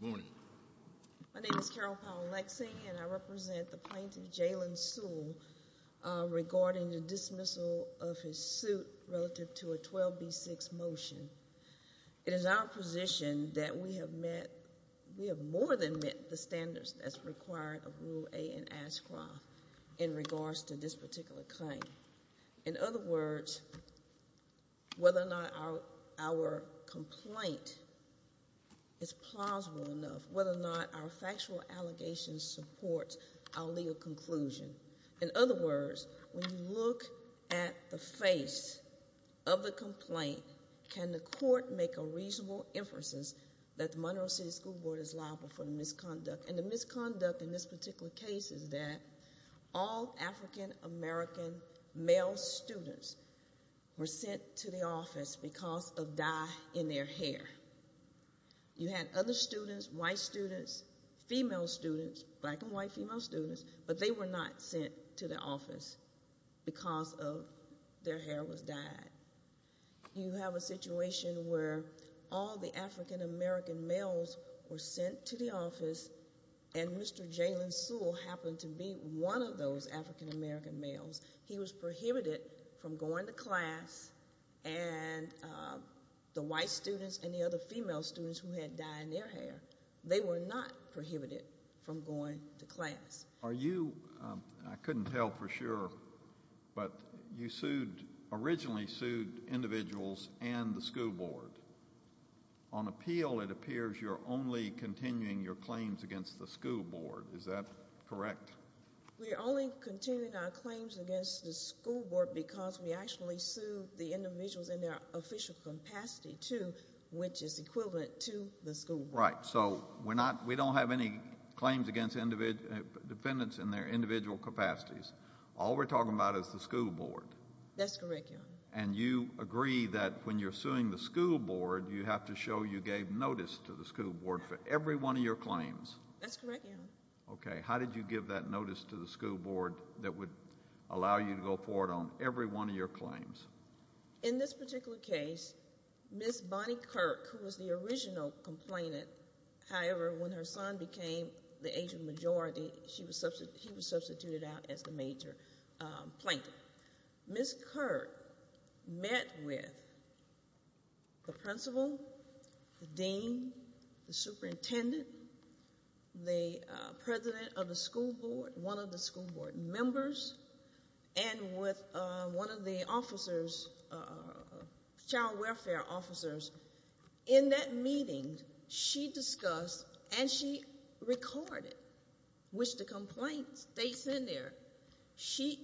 Good morning. My name is Carol Powell-Lexing and I represent the plaintiff Jalen Sewell regarding the dismissal of his suit relative to a 12b6 motion. It is our position that we have met we have more than met the standards that's required of Rule A in Ashcroft in regards to this particular claim. In other words, whether or not our our complaint is plausible enough, whether or not our factual allegations support our legal conclusion. In other words, when you look at the face of the complaint, can the court make a reasonable emphasis that the Monroe City School Board is liable for the misconduct? And the misconduct in this particular case is that all African-American male students were sent to the office because of dye in their hair. You had other students, white students, female students, black and white female students, but they were not sent to the office because of their hair was dyed. You have a situation where all the African-American males were sent to the office and Mr. Jalen Sewell happened to be one of those African-American males. He was prohibited from going to class and the white students and the other female students who had dye in their hair, they were not prohibited from going to class. Are you, I couldn't tell for sure, but you sued originally sued individuals and the school board. On appeal, it appears you're only continuing your claims against the school board. Is that correct? We're only continuing our claims against the school board because we actually sued the individuals in their official capacity too, which is equivalent to the school. Right. So we're not, we don't have any claims against defendants in their individual capacities. All we're talking about is the school board. That's correct. And you agree that when you're suing the school board, you have to show you gave notice to the school board for every one of your claims. That's correct. Okay. How did you give that on every one of your claims? In this particular case, Ms. Bonnie Kirk, who was the original complainant, however, when her son became the agent majority, she was substituted, he was substituted out as the major plaintiff. Ms. Kirk met with the principal, the dean, the superintendent, the president of the school board, one of the school board members, and with one of the officers, child welfare officers. In that meeting, she discussed and she recorded, which the complaint states in there, she,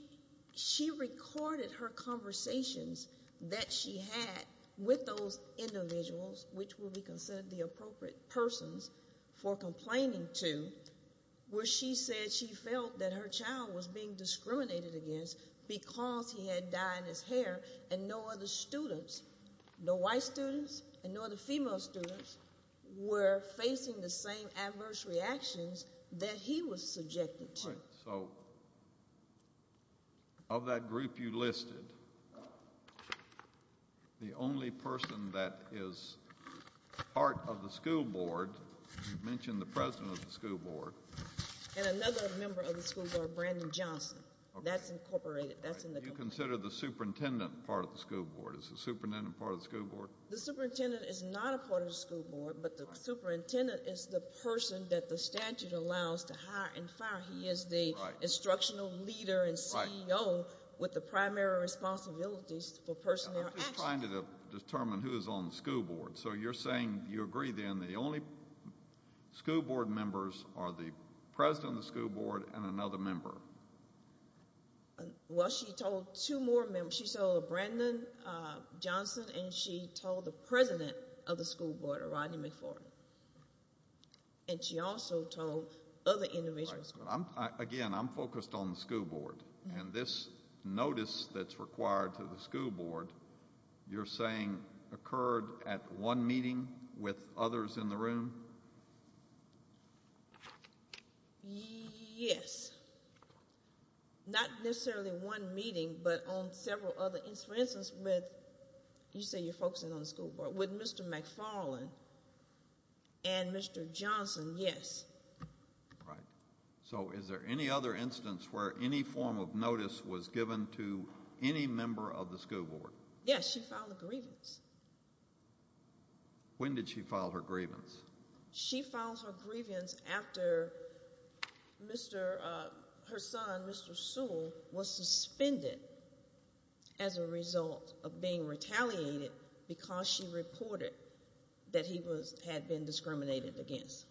she recorded her conversations that she had with those individuals, which would be considered the appropriate persons for complaining to, where she said she felt that her child was being discriminated against because he had dye in his hair and no other students, no white students and no other female students, were facing the same adverse reactions that he was subjected to. Right, so of that group you listed, the only person that is part of the school board, you mentioned the president of the school board. And another member of the school board, Brandon Johnson, that's incorporated, that's in the complaint. Do you consider the superintendent part of the school board? Is the superintendent part of the school board? The superintendent is not a part of the school board, but the superintendent is the person that the statute allows to hire and fire. He is the instructional leader and CEO with the primary responsibilities for personnel action. I'm just trying to determine who is on the school board. So you're saying you agree then the only school board members are the president of the school board and another member? Well, she told two more members. She told Brandon Johnson and she told the president of the school board, Rodney McFord, and she also told other individuals. Again, I'm focused on the school board and this notice that's required to the school board, you're saying occurred at one meeting with others in the room? Yes, not necessarily one meeting, but on several other instances with, you say you're focusing on the school board, with Mr. McFarland and Mr. Johnson, yes. Right, so is there any other instance where any form of notice was given to any member of the school board? Yes, she filed a grievance. When did she file her grievance? She filed her grievance after her son, Mr. Sewell, was suspended as a result of being retaliated because she reported that he had been discriminated against.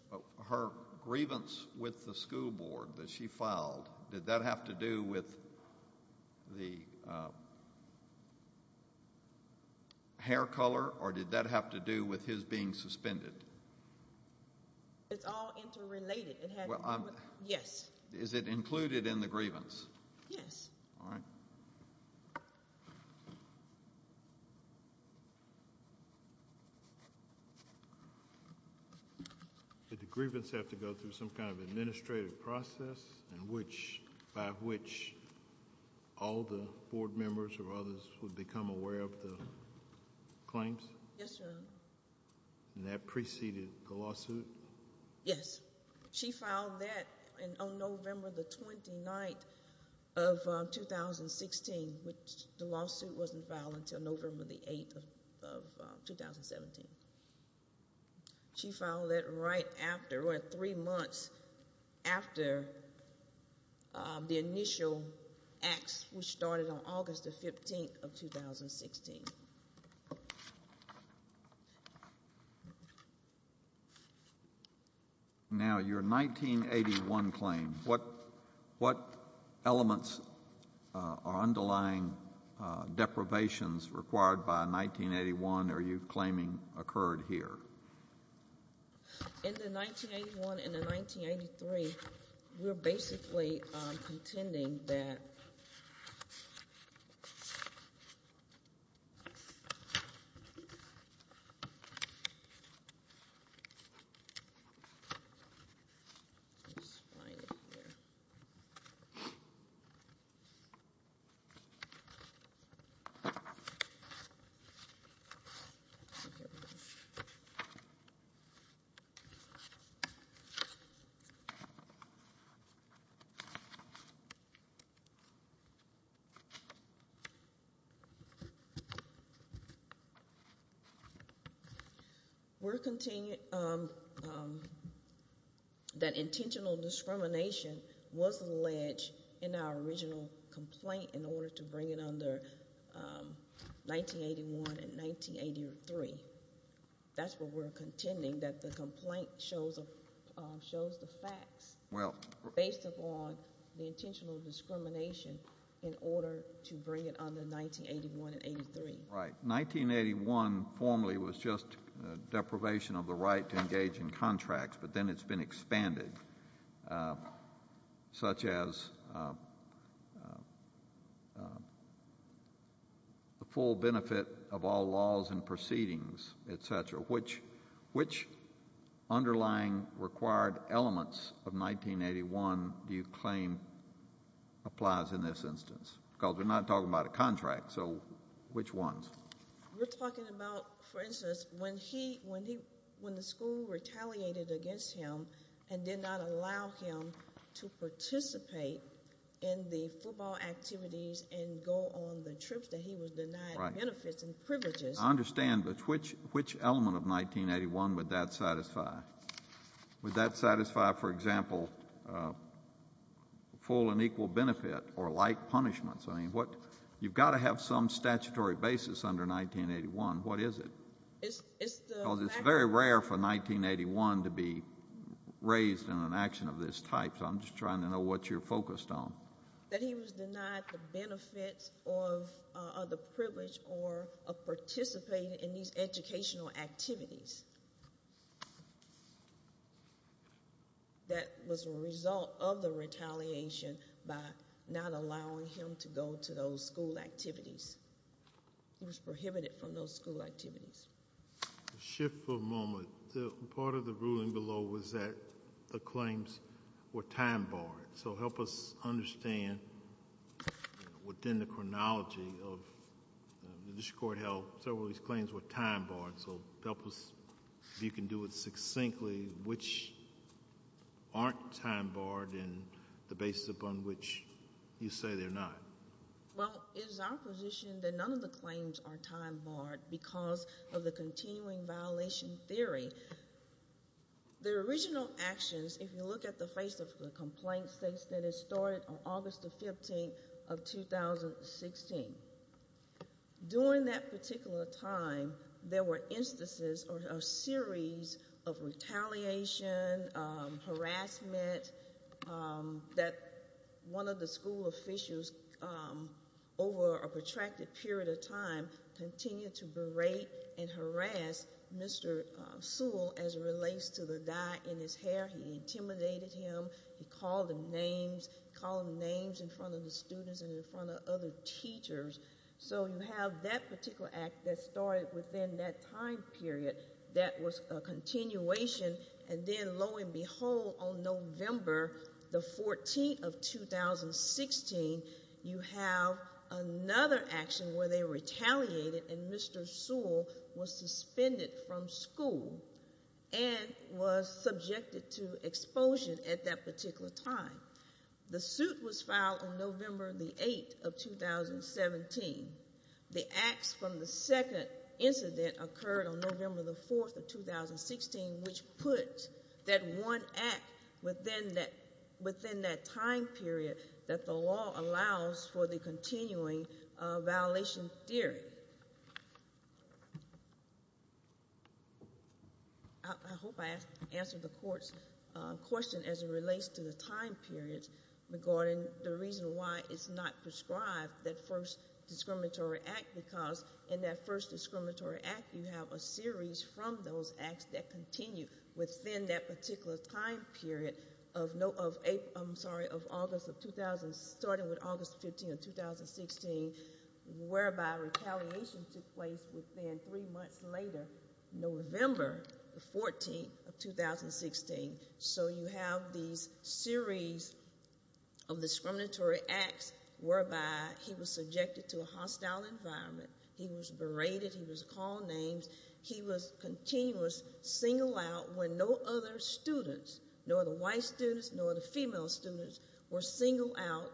Her grievance with the school board that she filed, did that have to do with the hair color or did that have to do with his being suspended? It's all interrelated. Is it included in the grievance? Yes. Did the grievance have to go through some kind of administrative process by which all the board members or others would become aware of the claims? Yes, Your Honor. And that preceded the lawsuit? Yes, she filed that on November the 29th of 2016, which the lawsuit wasn't filed until November the 8th of 2017. She filed that right after, what, three months after the initial acts which started on August the 15th of 2016. Now, your 1981 claim, what elements are underlying deprivations required by 1981 are you claiming occurred here? In the 1981 and the 1983, we're basically contending that let's find it here we're continuing that intentional discrimination was alleged in our original complaint in order to bring it under 1981 and 1983. That's what we're contending, that the complaint shows shows the facts based upon the intentional discrimination in order to bring it under 1981 and 83. Right, 1981 formally was just deprivation of the right to engage in contracts, but then it's been expanded, such as the full benefit of all laws and proceedings, etc. Which underlying required elements of 1981 do you claim applies in this instance? Because we're not talking about a contract, so which ones? We're talking about, for instance, when the school retaliated against him and did not allow him to participate in the football activities and go on trips that he was denied benefits and privileges. I understand, but which element of 1981 would that satisfy? Would that satisfy, for example, full and equal benefit or light punishments? I mean, you've got to have some statutory basis under 1981. What is it? It's very rare for 1981 to be raised in an action of this type, so I'm just trying to know what you're focused on. That he was denied the benefits or the privilege of participating in these educational activities that was a result of the retaliation by not allowing him to go to those school activities. It was prohibited from those school activities. Shift for a moment. The part of the ruling below was that the claims were time-barred, so help us understand within the chronology of this court held several of these claims were time-barred, so help us if you can do it succinctly, which aren't time-barred and the basis upon which you say they're not. Well, it is our position that none of the claims are time-barred because of the continuing violation theory. The original actions, if you look at the complaint states that it started on August the 15th of 2016. During that particular time, there were instances or a series of retaliation, harassment that one of the school officials over a protracted period of time continued to berate and harass Mr. Sewell as it relates to the guy in his hair. He intimidated him. He called him names. He called him names in front of the students and in front of other teachers. So you have that particular act that started within that time period that was a continuation and then lo and behold on November the 14th of 2016, you have another action where they retaliated and Mr. Sewell was suspended from school and was subjected to expulsion at that particular time. The suit was filed on November the 8th of 2017. The acts from the second incident occurred on November the 4th of 2016, which put that one act within that time period that the law allows for the continuing violation theory. I hope I answered the court's question as it relates to the time periods regarding the reason why it's not prescribed that first discriminatory act because in that first discriminatory act, you have a series from those acts that continue within that particular time period of August starting with August 15th of 2016, whereby retaliation took place within three months later, November the 14th of 2016. So you have these series of discriminatory acts whereby he was subjected to a hostile environment. He was berated. He was called names. He was continuous single out when no other students, nor the white students, nor the female students were single out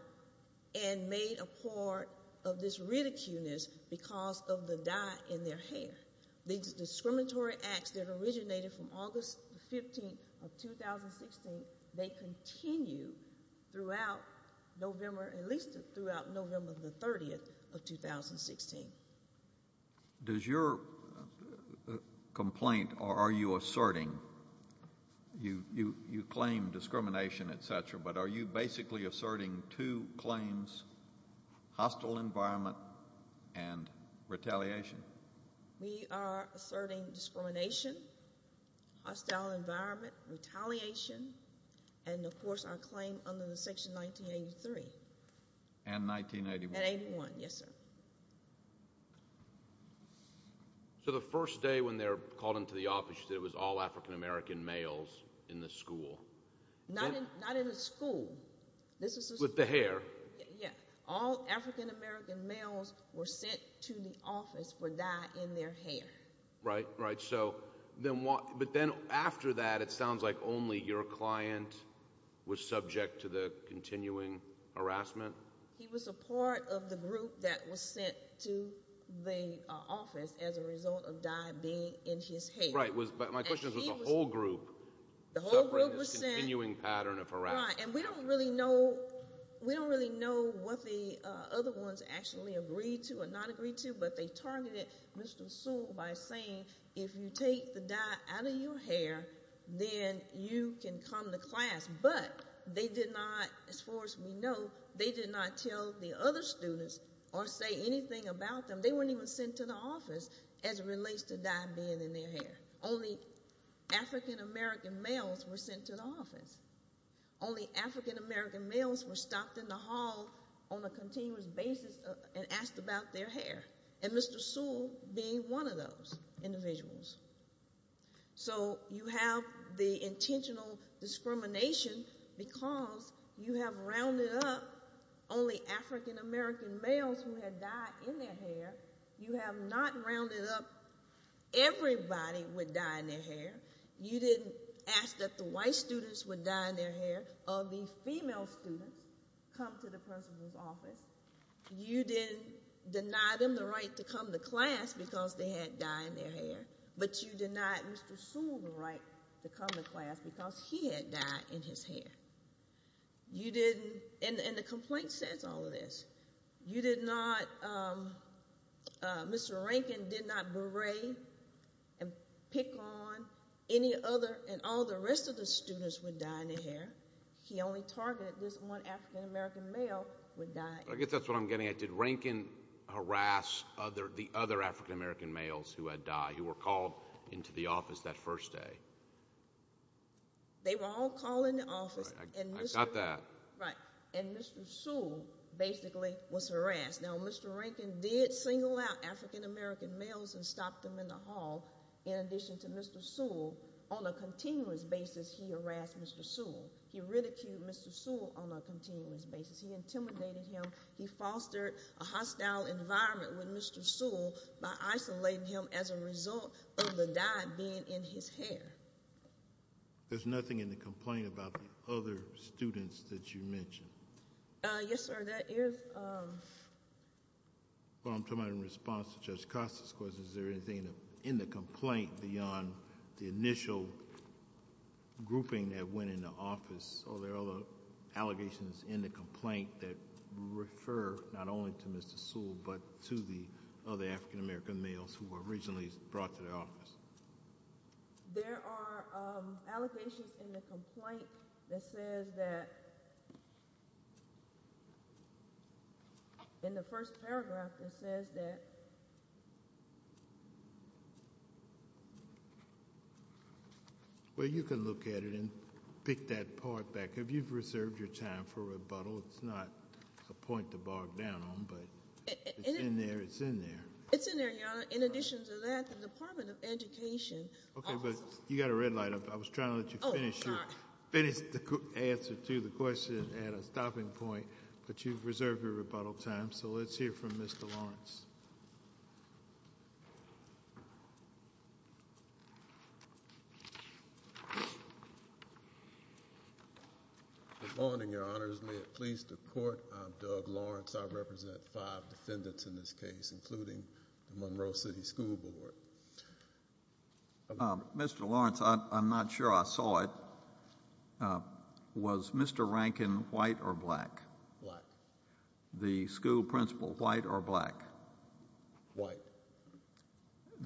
and made a part of this ridiculeness because of the dye in their hair. These discriminatory acts that originated from August 15th of 2016, they continue throughout November, at least throughout November the 30th of 2016. Does your complaint or are you asserting, you claim discrimination, etc., but are you basically asserting two claims, hostile environment and retaliation? We are asserting discrimination, hostile environment, retaliation, and of course our claim under the section 1983. And 1981. Yes, sir. So the first day when they're called into the office, it was all African American males in the school. Not in the school. With the hair. Yeah, all African American males were sent to the office for dye in their hair. Right, right. So then what, but then after that it sounds like only your client was subject to the continuing harassment. He was a part of the group that was sent to the office as a result of dye being in his hair. Right, but my question is, was the whole group. The whole group was sent. In this continuing pattern of harassment. Right, and we don't really know, we don't really know what the other ones actually agreed to or not agreed to, but they targeted Mr. Sewell by saying, if you take the dye out of your hair, then you can come to class. But they did not, as far as we know, they did not tell the other students or say anything about them. They weren't even sent to the office as it relates to dye being in their hair. Only African American males were sent to the office. Only African American males were stopped in the hall on a continuous basis and asked about their hair. And Mr. Sewell being one of those individuals. So you have the intentional discrimination because you have rounded up only African American males who had dye in their hair. You have not rounded up everybody with dye in their hair. You didn't ask that the white students with dye in their hair or the female students come to the principal's office. You didn't deny them the right to come to class because they had dye in their hair, but you denied Mr. Sewell the right to come to class because he had dye in his hair. You didn't, and the complaint says all of this, you did not, um, uh, Mr. Rankin did not berate and pick on any other and all the rest of the students with dye in their hair. He only targeted this one African American male with dye. I guess that's what I'm getting at. Did Rankin harass other, the other African American males who had dye who were called into the office that first day? They were all calling the office. I got that. Right. And Mr. Sewell basically was harassed. Now Mr. Rankin did single out African American males and stop them in the hall. In addition to Mr. Sewell, on a continuous basis, he harassed Mr. Sewell. He ridiculed Mr. Sewell on a continuous basis. He intimidated him. He fostered a hostile environment with Mr. Sewell by isolating him as a student. There's nothing in the complaint about the other students that you mentioned? Uh, yes, sir. That is, um. Well, I'm talking about in response to Judge Costa's question, is there anything in the complaint beyond the initial grouping that went into office? Are there other allegations in the complaint that refer not only to Mr. Sewell, but to the other African American males who were originally brought to the office? There are, um, allegations in the complaint that says that, in the first paragraph that says that. Well, you can look at it and pick that part back. If you've reserved your time for rebuttal, it's not a point to bog down on, but it's in there. It's in there, Your Honor. In addition to that, the Department of Education. Okay, but you got a red light. I was trying to let you finish the answer to the question at a stopping point, but you've reserved your rebuttal time, so let's hear from Mr. Lawrence. Good morning, Your Honors. May it please the Court, I'm Doug Lawrence. I represent five defendants in this case, including the Monroe City School Board. Mr. Lawrence, I'm not sure I saw it. Was Mr. Rankin white or black? Black. The school principal, white or black? White.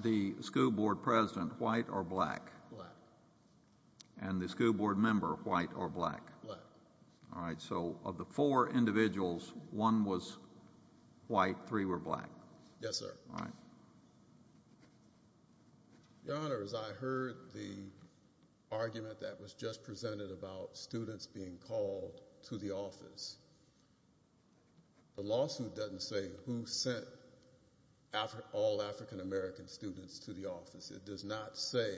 The school board president, white or black? Black. And the school board member, white or black? Black. All right, so of the four individuals, one was white, three were black. Yes, sir. All right. Your Honor, as I heard the argument that was just presented about students being called to the office, the lawsuit doesn't say who sent all African-American students to the office. It does not say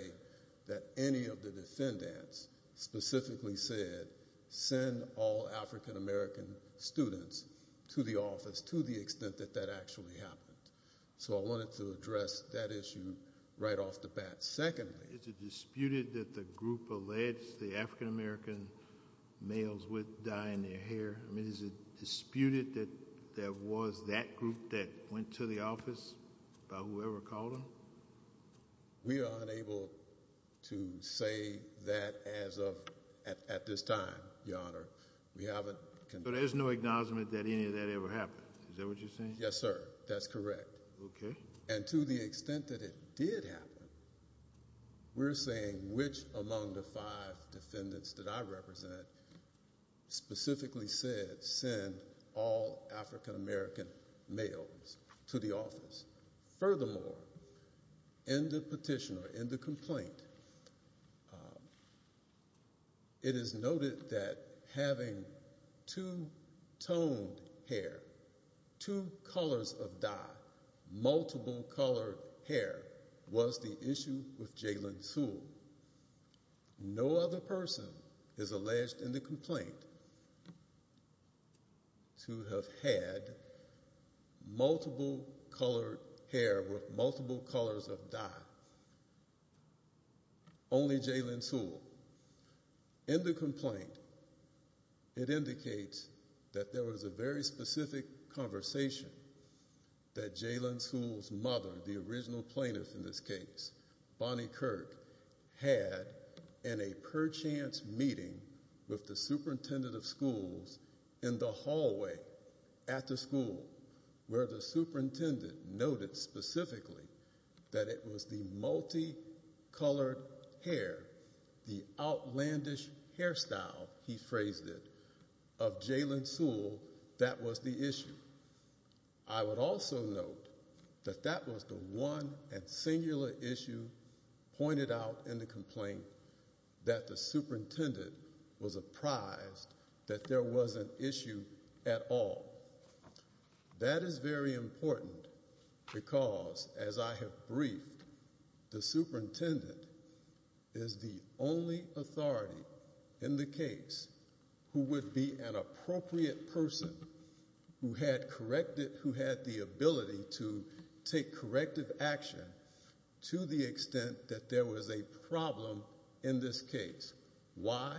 that any of the defendants specifically said, send all African-American students to the office, to the extent that that actually happened. So I wanted to address that issue right off the bat. Secondly, is it disputed that the group alleged the African-American males with dye in their hair, I mean, is it disputed that there was that group that went to the office by whoever called them? We are unable to say that as of at this time, Your Honor. We haven't. So there's no acknowledgement that any of that ever happened, is that what you're saying? Yes, sir, that's correct. Okay. And to the extent that it did happen, we're saying which among the five defendants that I In the petition or in the complaint, it is noted that having two-toned hair, two colors of dye, multiple colored hair was the issue with Jalen Sewell. No other person is alleged in the complaint to have had multiple colored hair with multiple colors of dye, only Jalen Sewell. In the complaint, it indicates that there was a very specific conversation that Jalen Sewell's mother, the original plaintiff in this case, Bonnie Kirk, had in a meeting with the superintendent of schools in the hallway at the school where the superintendent noted specifically that it was the multi-colored hair, the outlandish hairstyle, he phrased it, of Jalen Sewell that was the issue. I would also note that that was the one and singular issue pointed out in the complaint that the superintendent was apprised that there was an issue at all. That is very important because as I have briefed, the superintendent is the only authority in the case who would be an appropriate person who had corrected, who had the ability to take corrective action to the extent that there was a problem in this case. Why?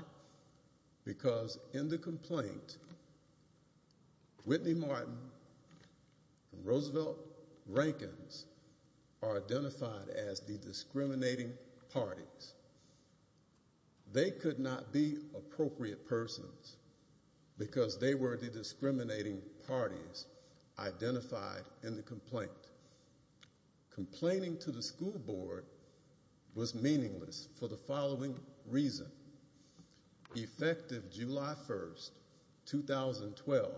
Because in the complaint, Whitney Martin and Roosevelt Rankins are identified as the discriminating parties. They could not be appropriate persons because they were the identified in the complaint. Complaining to the school board was meaningless for the following reason. Effective July 1st, 2012,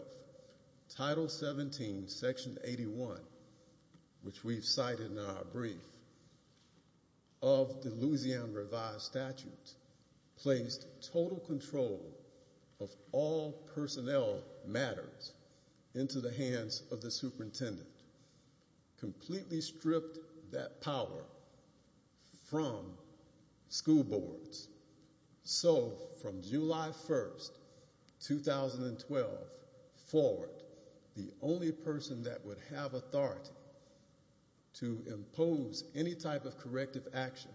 Title 17, Section 81, which we've cited in our brief, of the Louisiana Revised Statute placed total control of all personnel matters into the hands of the superintendent, completely stripped that power from school boards. So from July 1st, 2012 forward, the only person that would have authority to impose any type of corrective action,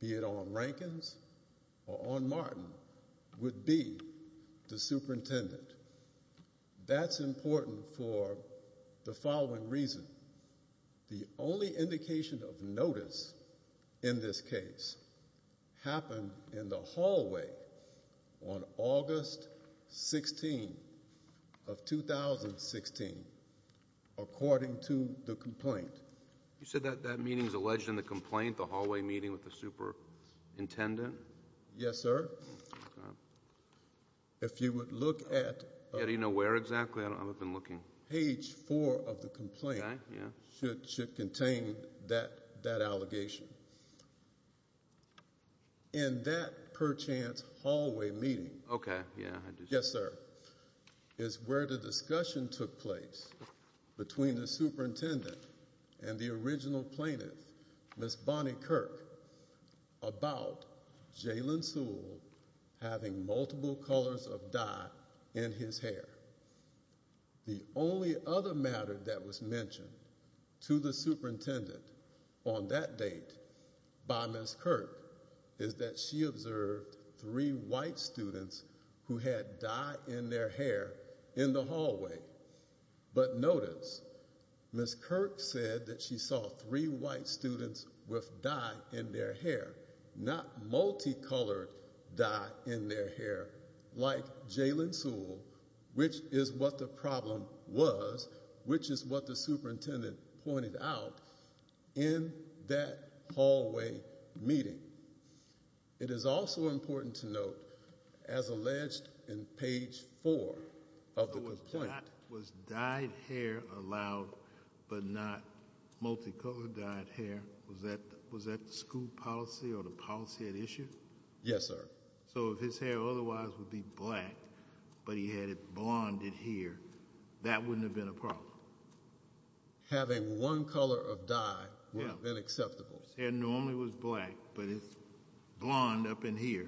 be it on Rankins or on Martin, would be the superintendent. That's important for the following reason. The only indication of notice in this case happened in the hallway on August 16 of 2016, according to the complaint. You said that that meeting is alleged in the complaint, the hallway meeting with the superintendent? Yes, sir. If you would look at... Do you know where exactly? I've been looking. Page four of the complaint should contain that allegation. In that perchance hallway meeting, yes sir, is where the discussion took place between the superintendent and the original plaintiff, Ms. Bonnie Kirk, about Jalen Sewell having multiple colors of dye in his hair. The only other matter that was mentioned to the superintendent on that date by Ms. Kirk is that she observed three white students who had dye in their hair in the hallway. But notice, Ms. Kirk said that she saw three white students with dye in their hair, not multicolored dye in their hair like Jalen Sewell, which is what the problem was, which is what the superintendent pointed out in that hallway meeting. It is also important to note, as alleged in page four of the complaint... Was dyed hair allowed but not multicolored dyed hair? Was that the school policy or the policy at issue? Yes, sir. So if his hair otherwise would be black but he had it blonded here, that wouldn't have been a problem? Having one color of dye would have been acceptable? If his hair normally was black but it's blond up in here,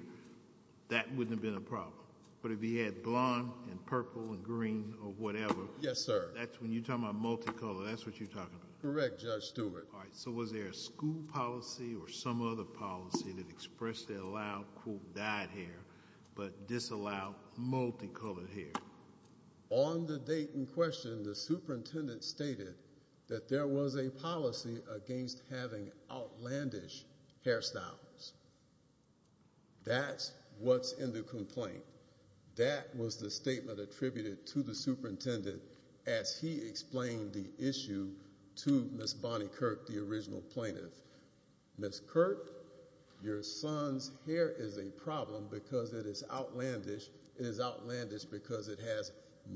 that wouldn't have been a problem? But if he had blond and purple and green or whatever... Yes, sir. That's when you're talking about multicolored, that's what you're talking about? Correct, Judge Stewart. All right, so was there a school policy or some other policy that expressed allowed dyed hair but disallowed multicolored hair? On the date in question, the superintendent stated that there was a policy against having outlandish hairstyles. That's what's in the complaint. That was the statement attributed to the superintendent as he explained the issue to Ms. Bonnie Kirk, the original plaintiff. Ms. Kirk, your son's hair is a problem because it is outlandish. It is outlandish because it has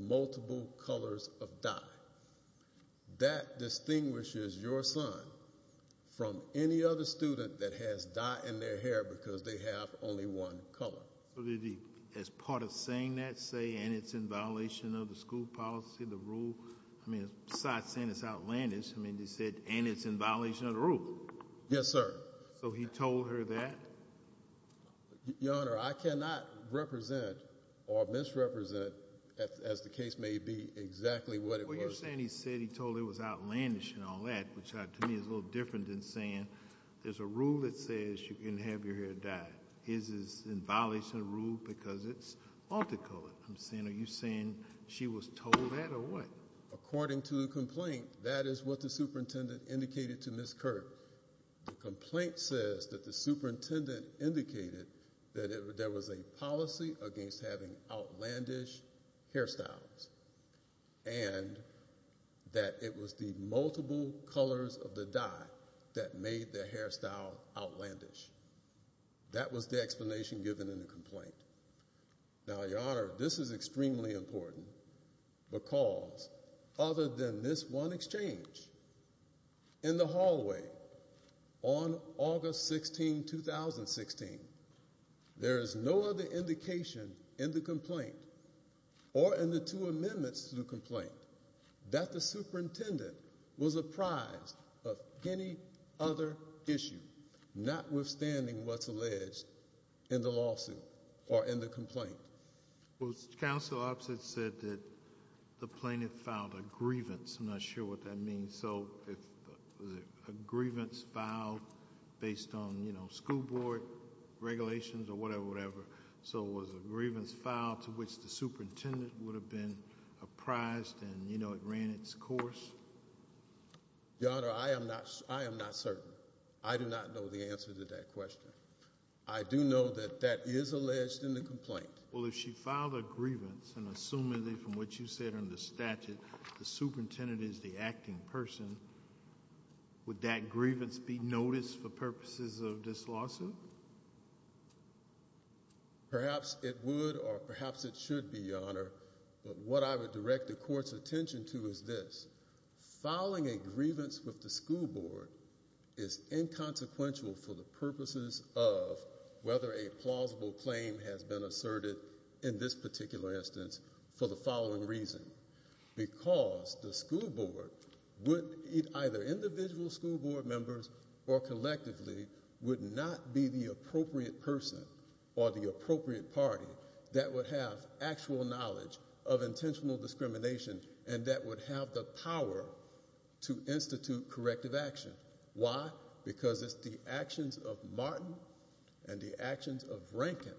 multiple colors of dye. That distinguishes your son from any other student that has dye in their hair because they have only one color. So did he, as part of saying that, say and it's in violation of the school policy, the rule, I mean besides saying it's outlandish, I mean he said and it's in violation of the rule. Yes, sir. So he told her that? Your Honor, I cannot represent or misrepresent as the case may be exactly what it was. Well, you're saying he said he told it was outlandish and all that, which to me is a little different than saying there's a rule that says you can have your hair dyed. His is in violation of the rule because it's multicolored. I'm saying are you saying she was told that or according to the complaint, that is what the superintendent indicated to Ms. Kirk. The complaint says that the superintendent indicated that there was a policy against having outlandish hairstyles and that it was the multiple colors of the dye that made the hairstyle outlandish. That was the explanation given in the complaint. Now, Your Honor, this is extremely important because other than this one exchange in the hallway on August 16, 2016, there is no other indication in the complaint or in the two amendments to the complaint that the superintendent was apprised of any other issue notwithstanding what's alleged in the lawsuit or in the complaint. Well, counsel opposite said that the plaintiff filed a grievance. I'm not sure what that means. So it was a grievance filed based on, you know, school board regulations or whatever, whatever. So it was a grievance filed to which the superintendent would have been apprised and, you know, it ran its course. Your Honor, I am not, I am not certain. I do not know the answer to that question. I do know that that is alleged in the complaint. Well, if she filed a grievance and assuming from what you said in the statute, the superintendent is the acting person, would that grievance be noticed for purposes of this lawsuit? Perhaps it would or perhaps it should be, Your Honor, but what I would direct the court's board is inconsequential for the purposes of whether a plausible claim has been asserted in this particular instance for the following reason. Because the school board would either individual school board members or collectively would not be the appropriate person or the appropriate party that would have actual knowledge of intentional discrimination and that would have the power to institute corrective action. Why? Because it's the actions of Martin and the actions of Rankin,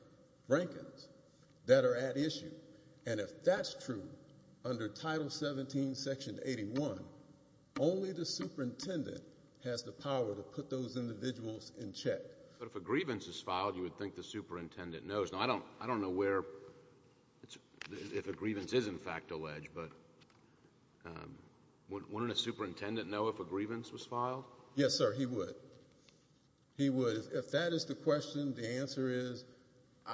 Rankins, that are at issue. And if that's true, under Title 17, Section 81, only the superintendent has the power to put those individuals in check. But if a grievance is filed, you would think the superintendent knows. Now, I don't, I don't know where, if a grievance is, in fact, alleged, but wouldn't a superintendent know if a grievance was filed? Yes, sir, he would. He would. If that is the question, the answer is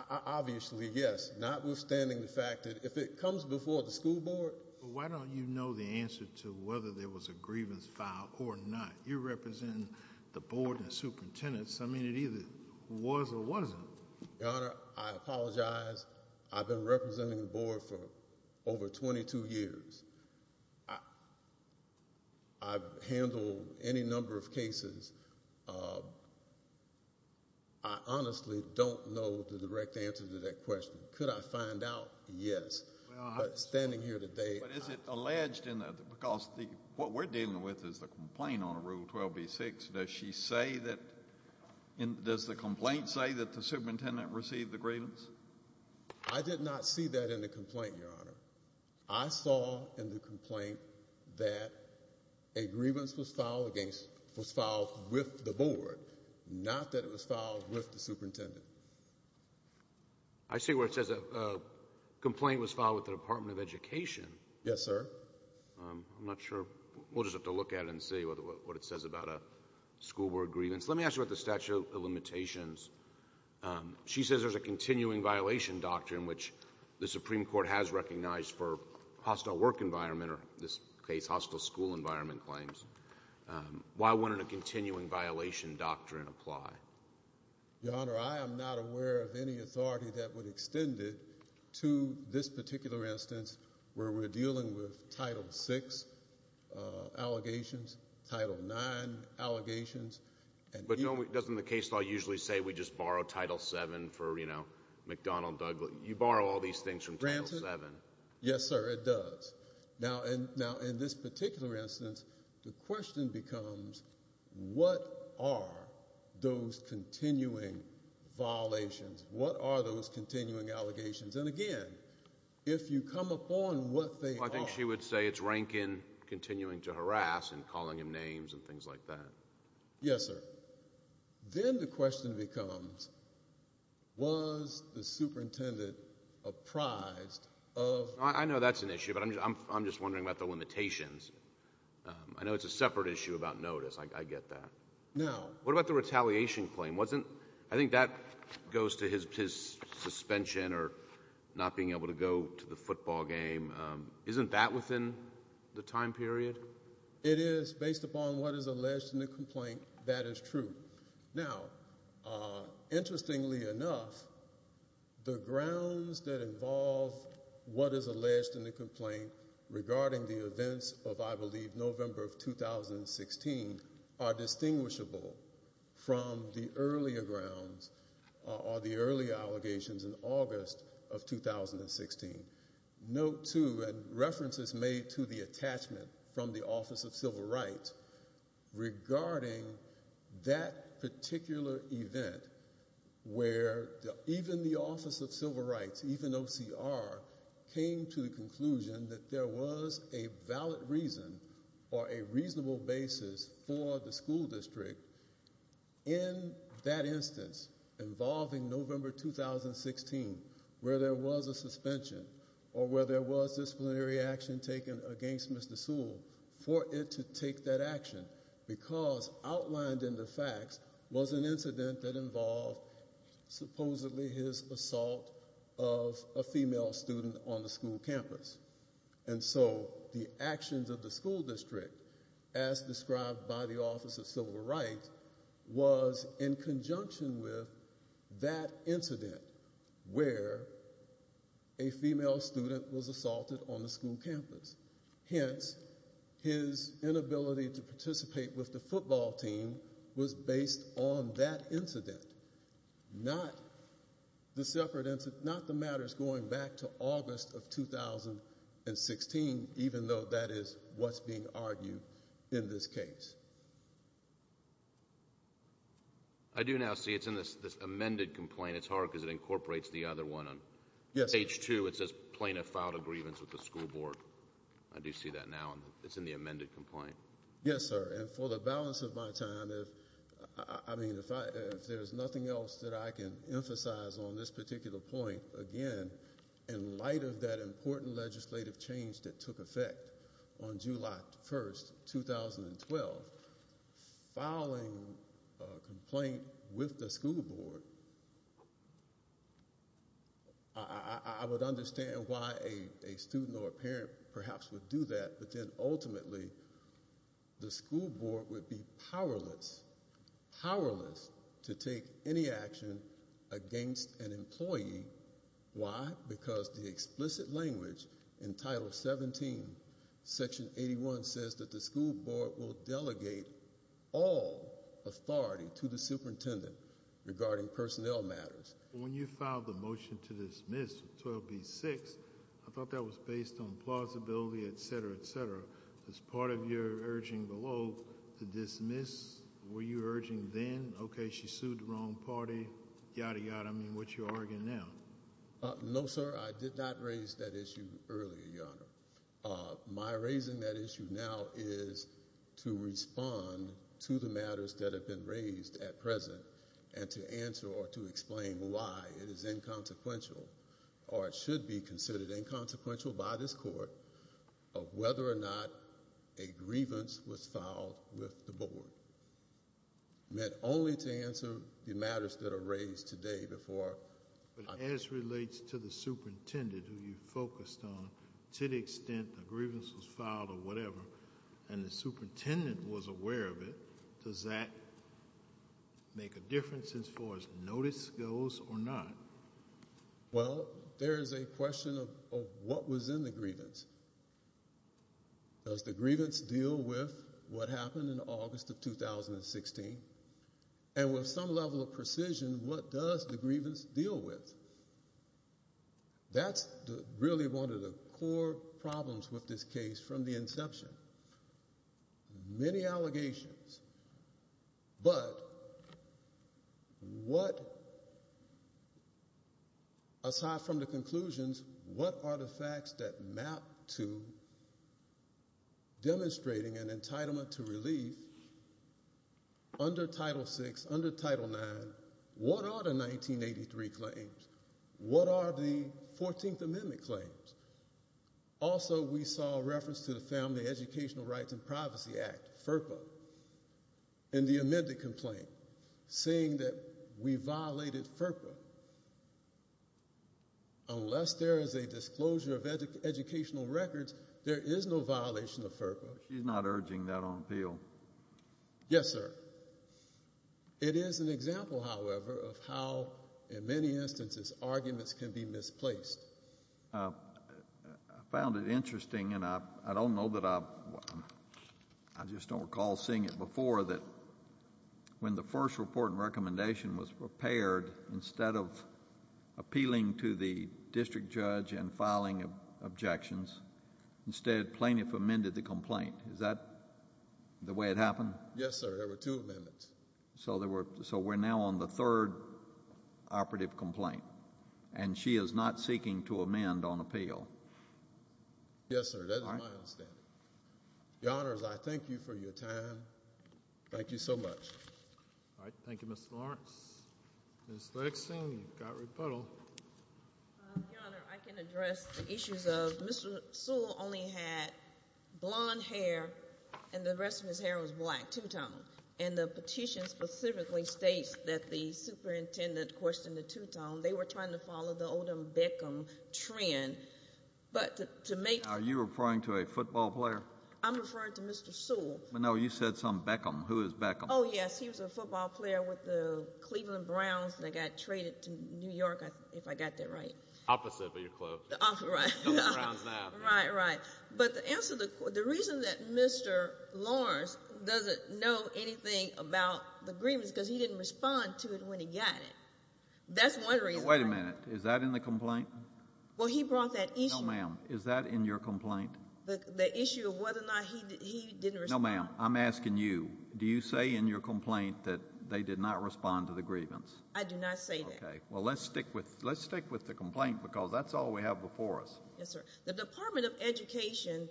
obviously yes, notwithstanding the fact that if it comes before the school board. Why don't you know the answer to whether there was a grievance filed or not? You're representing the board and superintendents. I mean, it either was or wasn't. Your Honor, I apologize. I've been representing the board for over 22 years. I've handled any number of cases. I honestly don't know the direct answer to that question. Could I find out? Yes, but standing here today. But is it alleged in that, because what we're dealing with is the complaint on Rule 12b-6. Does she say that, does the complaint say that the superintendent received the grievance? I did not see that in the complaint, Your Honor. I saw in the complaint that a grievance was filed against, was filed with the board, not that it was filed with the superintendent. I see where it says a complaint was filed with the Department of Education. Yes, sir. I'm not sure. We'll just have to look at it and see what it says about a school board grievance. Let me ask you about the statute of limitations. She says there's a continuing violation doctrine, which the Supreme Court has recognized for hostile work environment, or in this case, hostile school environment claims. Why wouldn't a continuing violation doctrine apply? Your Honor, I am not aware of any authority that would extend it to this particular instance where we're dealing with Title 6 allegations, Title 9 allegations. But doesn't the case law usually say we just borrow Title 7 for, you know, McDonnell-Douglas? You borrow all these things from Title 7. Yes, sir, it does. Now, in this particular instance, the question becomes, what are those continuing violations? What are those allegations? And again, if you come upon what they are... I think she would say it's Rankin continuing to harass and calling him names and things like that. Yes, sir. Then the question becomes, was the superintendent apprised of... I know that's an issue, but I'm just wondering about the limitations. I know it's a separate issue about notice. I get that. Now, what about the or not being able to go to the football game? Isn't that within the time period? It is. Based upon what is alleged in the complaint, that is true. Now, interestingly enough, the grounds that involve what is alleged in the complaint regarding the events of, I believe, November of 2016, are distinguishable from the earlier grounds or the earlier allegations in August of 2016. Note, too, and references made to the attachment from the Office of Civil Rights regarding that particular event where even the Office of Civil Rights, even OCR, came to the conclusion that there was a valid reason or a reasonable basis for the school district in that instance involving November 2016 where there was a suspension or where there was disciplinary action taken against Mr. Sewell for it to take that action because outlined in the facts was an incident that involved supposedly his assault of a female student on the school campus. And so the actions of the school district, as described by the Office of Civil Rights, was in conjunction with that incident where a female student was assaulted on the school campus. Hence, his inability to participate with the football team was based on that incident, not the separate incident, not the matters going back to August of 2016, even though that is what's being argued in this case. I do now see it's in this amended complaint. It's hard because it incorporates the other one on page two. It says plaintiff filed a grievance with the school board. I do see that now. It's in the amended complaint. Yes, sir. And for the balance of my time, if there's nothing else that I can emphasize on this particular point, again, in light of that important legislative change that took effect on July 1st, 2012, filing a complaint with the school board, I would understand why a student or a parent perhaps would do that, but then ultimately the school board would be powerless, powerless to take any action against an employee. Why? Because the explicit language in Title 17, Section 81 says that the school board will delegate all authority to the superintendent regarding personnel matters. When you filed the motion to dismiss 12B-6, I thought that was based on plausibility, etc., etc. Is part of your urging below to dismiss? Were you urging then, okay, she sued the wrong party, yada, yada, I mean, what you're arguing now? No, sir. I did not raise that issue earlier, Your Honor. My raising that issue now is to respond to the matters that have been raised at present and to answer or to explain why it is inconsequential or it should be considered inconsequential by this court of whether or not a grievance was filed with the board. Meant only to answer the matters that are raised today before. But as relates to the superintendent who you focused on, to the extent the grievance was filed or whatever and the superintendent was aware of it, does that make a difference as far as notice goes or not? Well, there is a question of what was in the grievance. Does the grievance deal with what happened in August of 2016? And with some level of precision, what does the grievance deal with? That's really one of the core problems with this case from the inception. Many allegations, but what, aside from the conclusions, what are the facts that map to demonstrating an entitlement to relief under Title VI, under Title IX? What are the 1983 claims? What are the 14th Amendment claims? Also, we saw a reference to the Family Educational Rights and Privacy Act, FERPA, in the amended complaint, saying that we violated FERPA. Unless there is a disclosure of educational records, there is no violation of FERPA. She's not urging that on appeal. Yes, sir. It is an example, however, of how in many instances arguments can be misplaced. I found it interesting, and I don't know that I just don't recall seeing it before, that when the first report and recommendation was prepared, instead of appealing to the district judge and filing objections, instead Plaintiff amended the complaint. Is that the way it happened? Yes, sir. There were two amendments. So we're now on the third operative complaint, and she is not seeking to amend on appeal. Yes, sir. That is my understanding. Your Honors, I thank you for your time. Thank you so much. All right. Thank you, Mr. Lawrence. Ms. Lexing, you've got rebuttal. Your Honor, I can address the issues of Mr. Sewell only had blonde hair and the rest of his hair was black, two-tone. And the petition specifically states that the superintendent questioned the two-tone. They were trying to follow the Odom-Beckham trend. Are you referring to a football player? I'm referring to Mr. Sewell. No, you said some Beckham. Who is Beckham? Oh, yes, he was a football player with the Cleveland Browns that got traded to New York, if I got that right. Opposite of your club. Right, right. But the reason that Mr. Lawrence doesn't know anything about the grievance because he didn't respond to it when he got it. That's one reason. Wait a minute. Is that in the complaint? Well, he brought that issue. No, ma'am. Is that in your complaint? The issue of whether or not he didn't respond. No, ma'am. I'm asking you. Do you say in your complaint that they did not respond to the grievance? I do not say that. Okay. Well, let's stick with the complaint because that's all we have before us. Yes, sir. The Department of Education,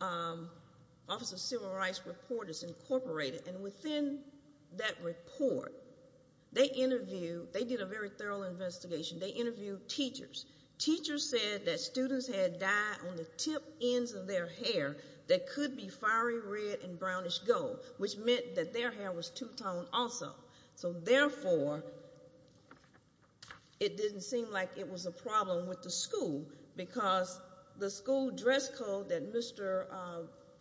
Office of Civil Rights Report is incorporated, and within that report, they interviewed, they did a very thorough investigation. They interviewed teachers. Teachers said that students had dye on the tip ends of their hair that could be fiery red and brownish gold, which meant that their hair was two-toned also. So, therefore, it didn't seem like it was a problem with the school because the school dress code that Mr.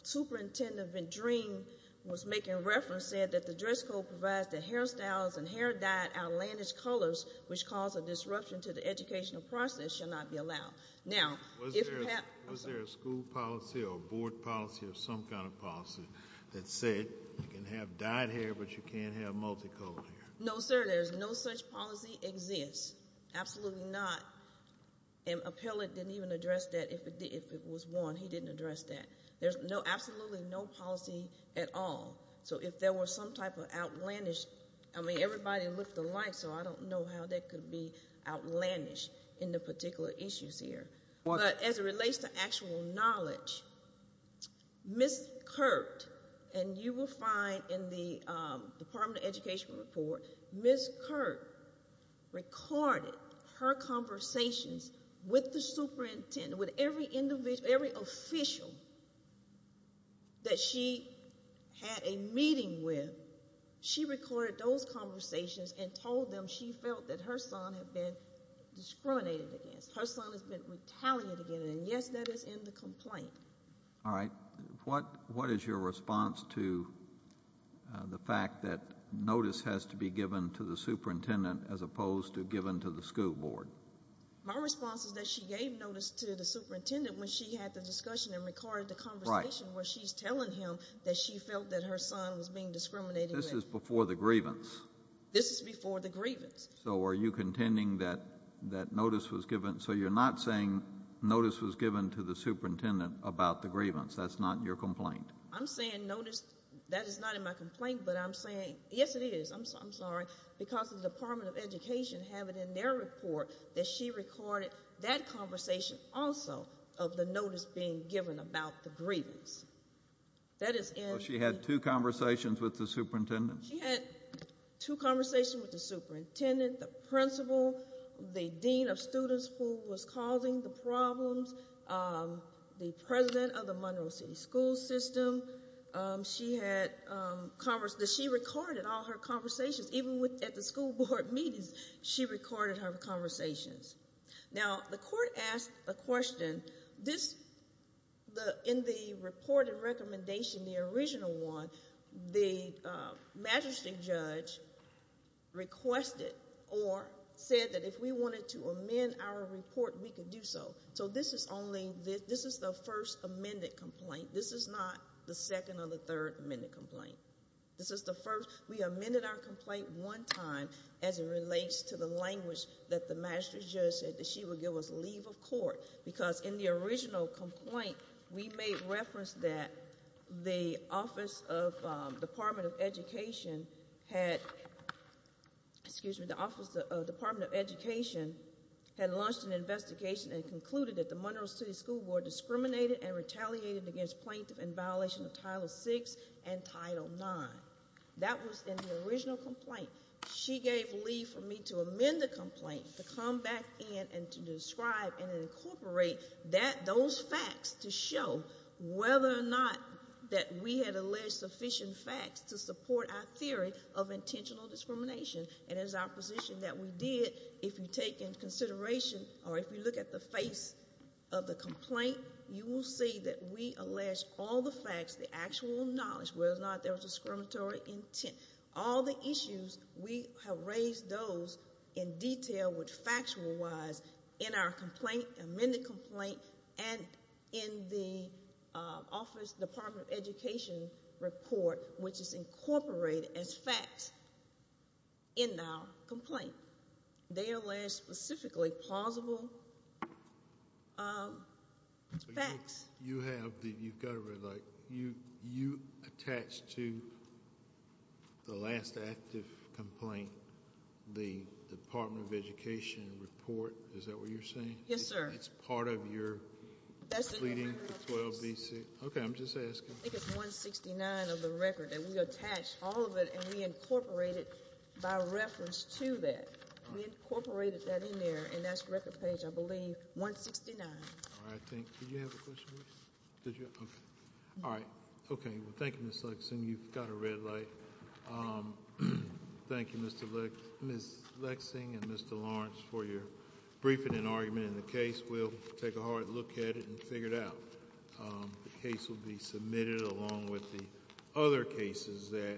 Superintendent Vendrine was making reference said that the dress code provides that hairstyles and hair dyed outlandish colors, which cause a disruption to the educational process, shall not be allowed. Now, was there a school policy or dyed hair, but you can't have multicolored hair? No, sir. There's no such policy exists. Absolutely not. An appellate didn't even address that. If it was one, he didn't address that. There's absolutely no policy at all. So, if there was some type of outlandish, I mean, everybody looked alike, so I don't know how that could be outlandish in the particular issues here. But as it relates to actual knowledge, Miss Kirk, and you will find in the Department of Education report, Miss Kirk recorded her conversations with the superintendent, with every individual, every official that she had a meeting with. She recorded those conversations and told them she felt that her son had been discriminated against. Her son has been retaliated against, and yes, that is in the complaint. All right. What is your response to the fact that notice has to be given to the superintendent as opposed to given to the school board? My response is that she gave notice to the superintendent when she had the discussion and recorded the conversation where she's telling him that she felt that her son was being discriminated against before the grievance. So, are you contending that notice was given, so you're not saying notice was given to the superintendent about the grievance, that's not your complaint? I'm saying notice, that is not in my complaint, but I'm saying, yes it is, I'm sorry, because the Department of Education have it in their report that she recorded that conversation also of the notice being given about the grievance. That is in. Two conversations with the superintendent? She had two conversations with the superintendent, the principal, the dean of students who was causing the problems, the president of the Monroe City School System. She had, she recorded all her conversations, even at the school board meetings, she recorded her conversations. Now, the court asked a question, this, the, in the report and recommendation, the original one, the magistrate judge requested or said that if we wanted to amend our report, we could do so. So, this is only, this is the first amended complaint, this is not the second or the third amended complaint. This is the first, we amended our complaint one time as it relates to the language that the original complaint, we made reference that the Office of Department of Education had, excuse me, the Office of Department of Education had launched an investigation and concluded that the Monroe City School Board discriminated and retaliated against plaintiff in violation of Title VI and Title IX. That was in the original complaint. She gave leave for me to amend the those facts to show whether or not that we had alleged sufficient facts to support our theory of intentional discrimination. And as our position that we did, if you take in consideration or if you look at the face of the complaint, you will see that we allege all the facts, the actual knowledge, whether or not there was discriminatory intent. All the issues, we have raised those in detail with factual wise in our complaint, amended complaint, and in the Office of Department of Education report, which is incorporated as facts in our complaint. They allege specifically plausible facts. You have the, you've got to relate, you attach to the last active complaint the Department of Education report. Is that what you're saying? Yes, sir. It's part of your that's leading to 12 BC. Okay, I'm just asking. I think it's 169 of the record that we attach all of it and we incorporate it by reference to that. We incorporated that in there and that's record page, I believe, 169. All right, thank you. Did you have a question? Did you? Okay, thank you, Ms. Lexing. You've got a red light. Thank you, Ms. Lexing and Mr. Lawrence for your briefing and argument in the case. We'll take a hard look at it and figure it out. The case will be submitted along with the other cases that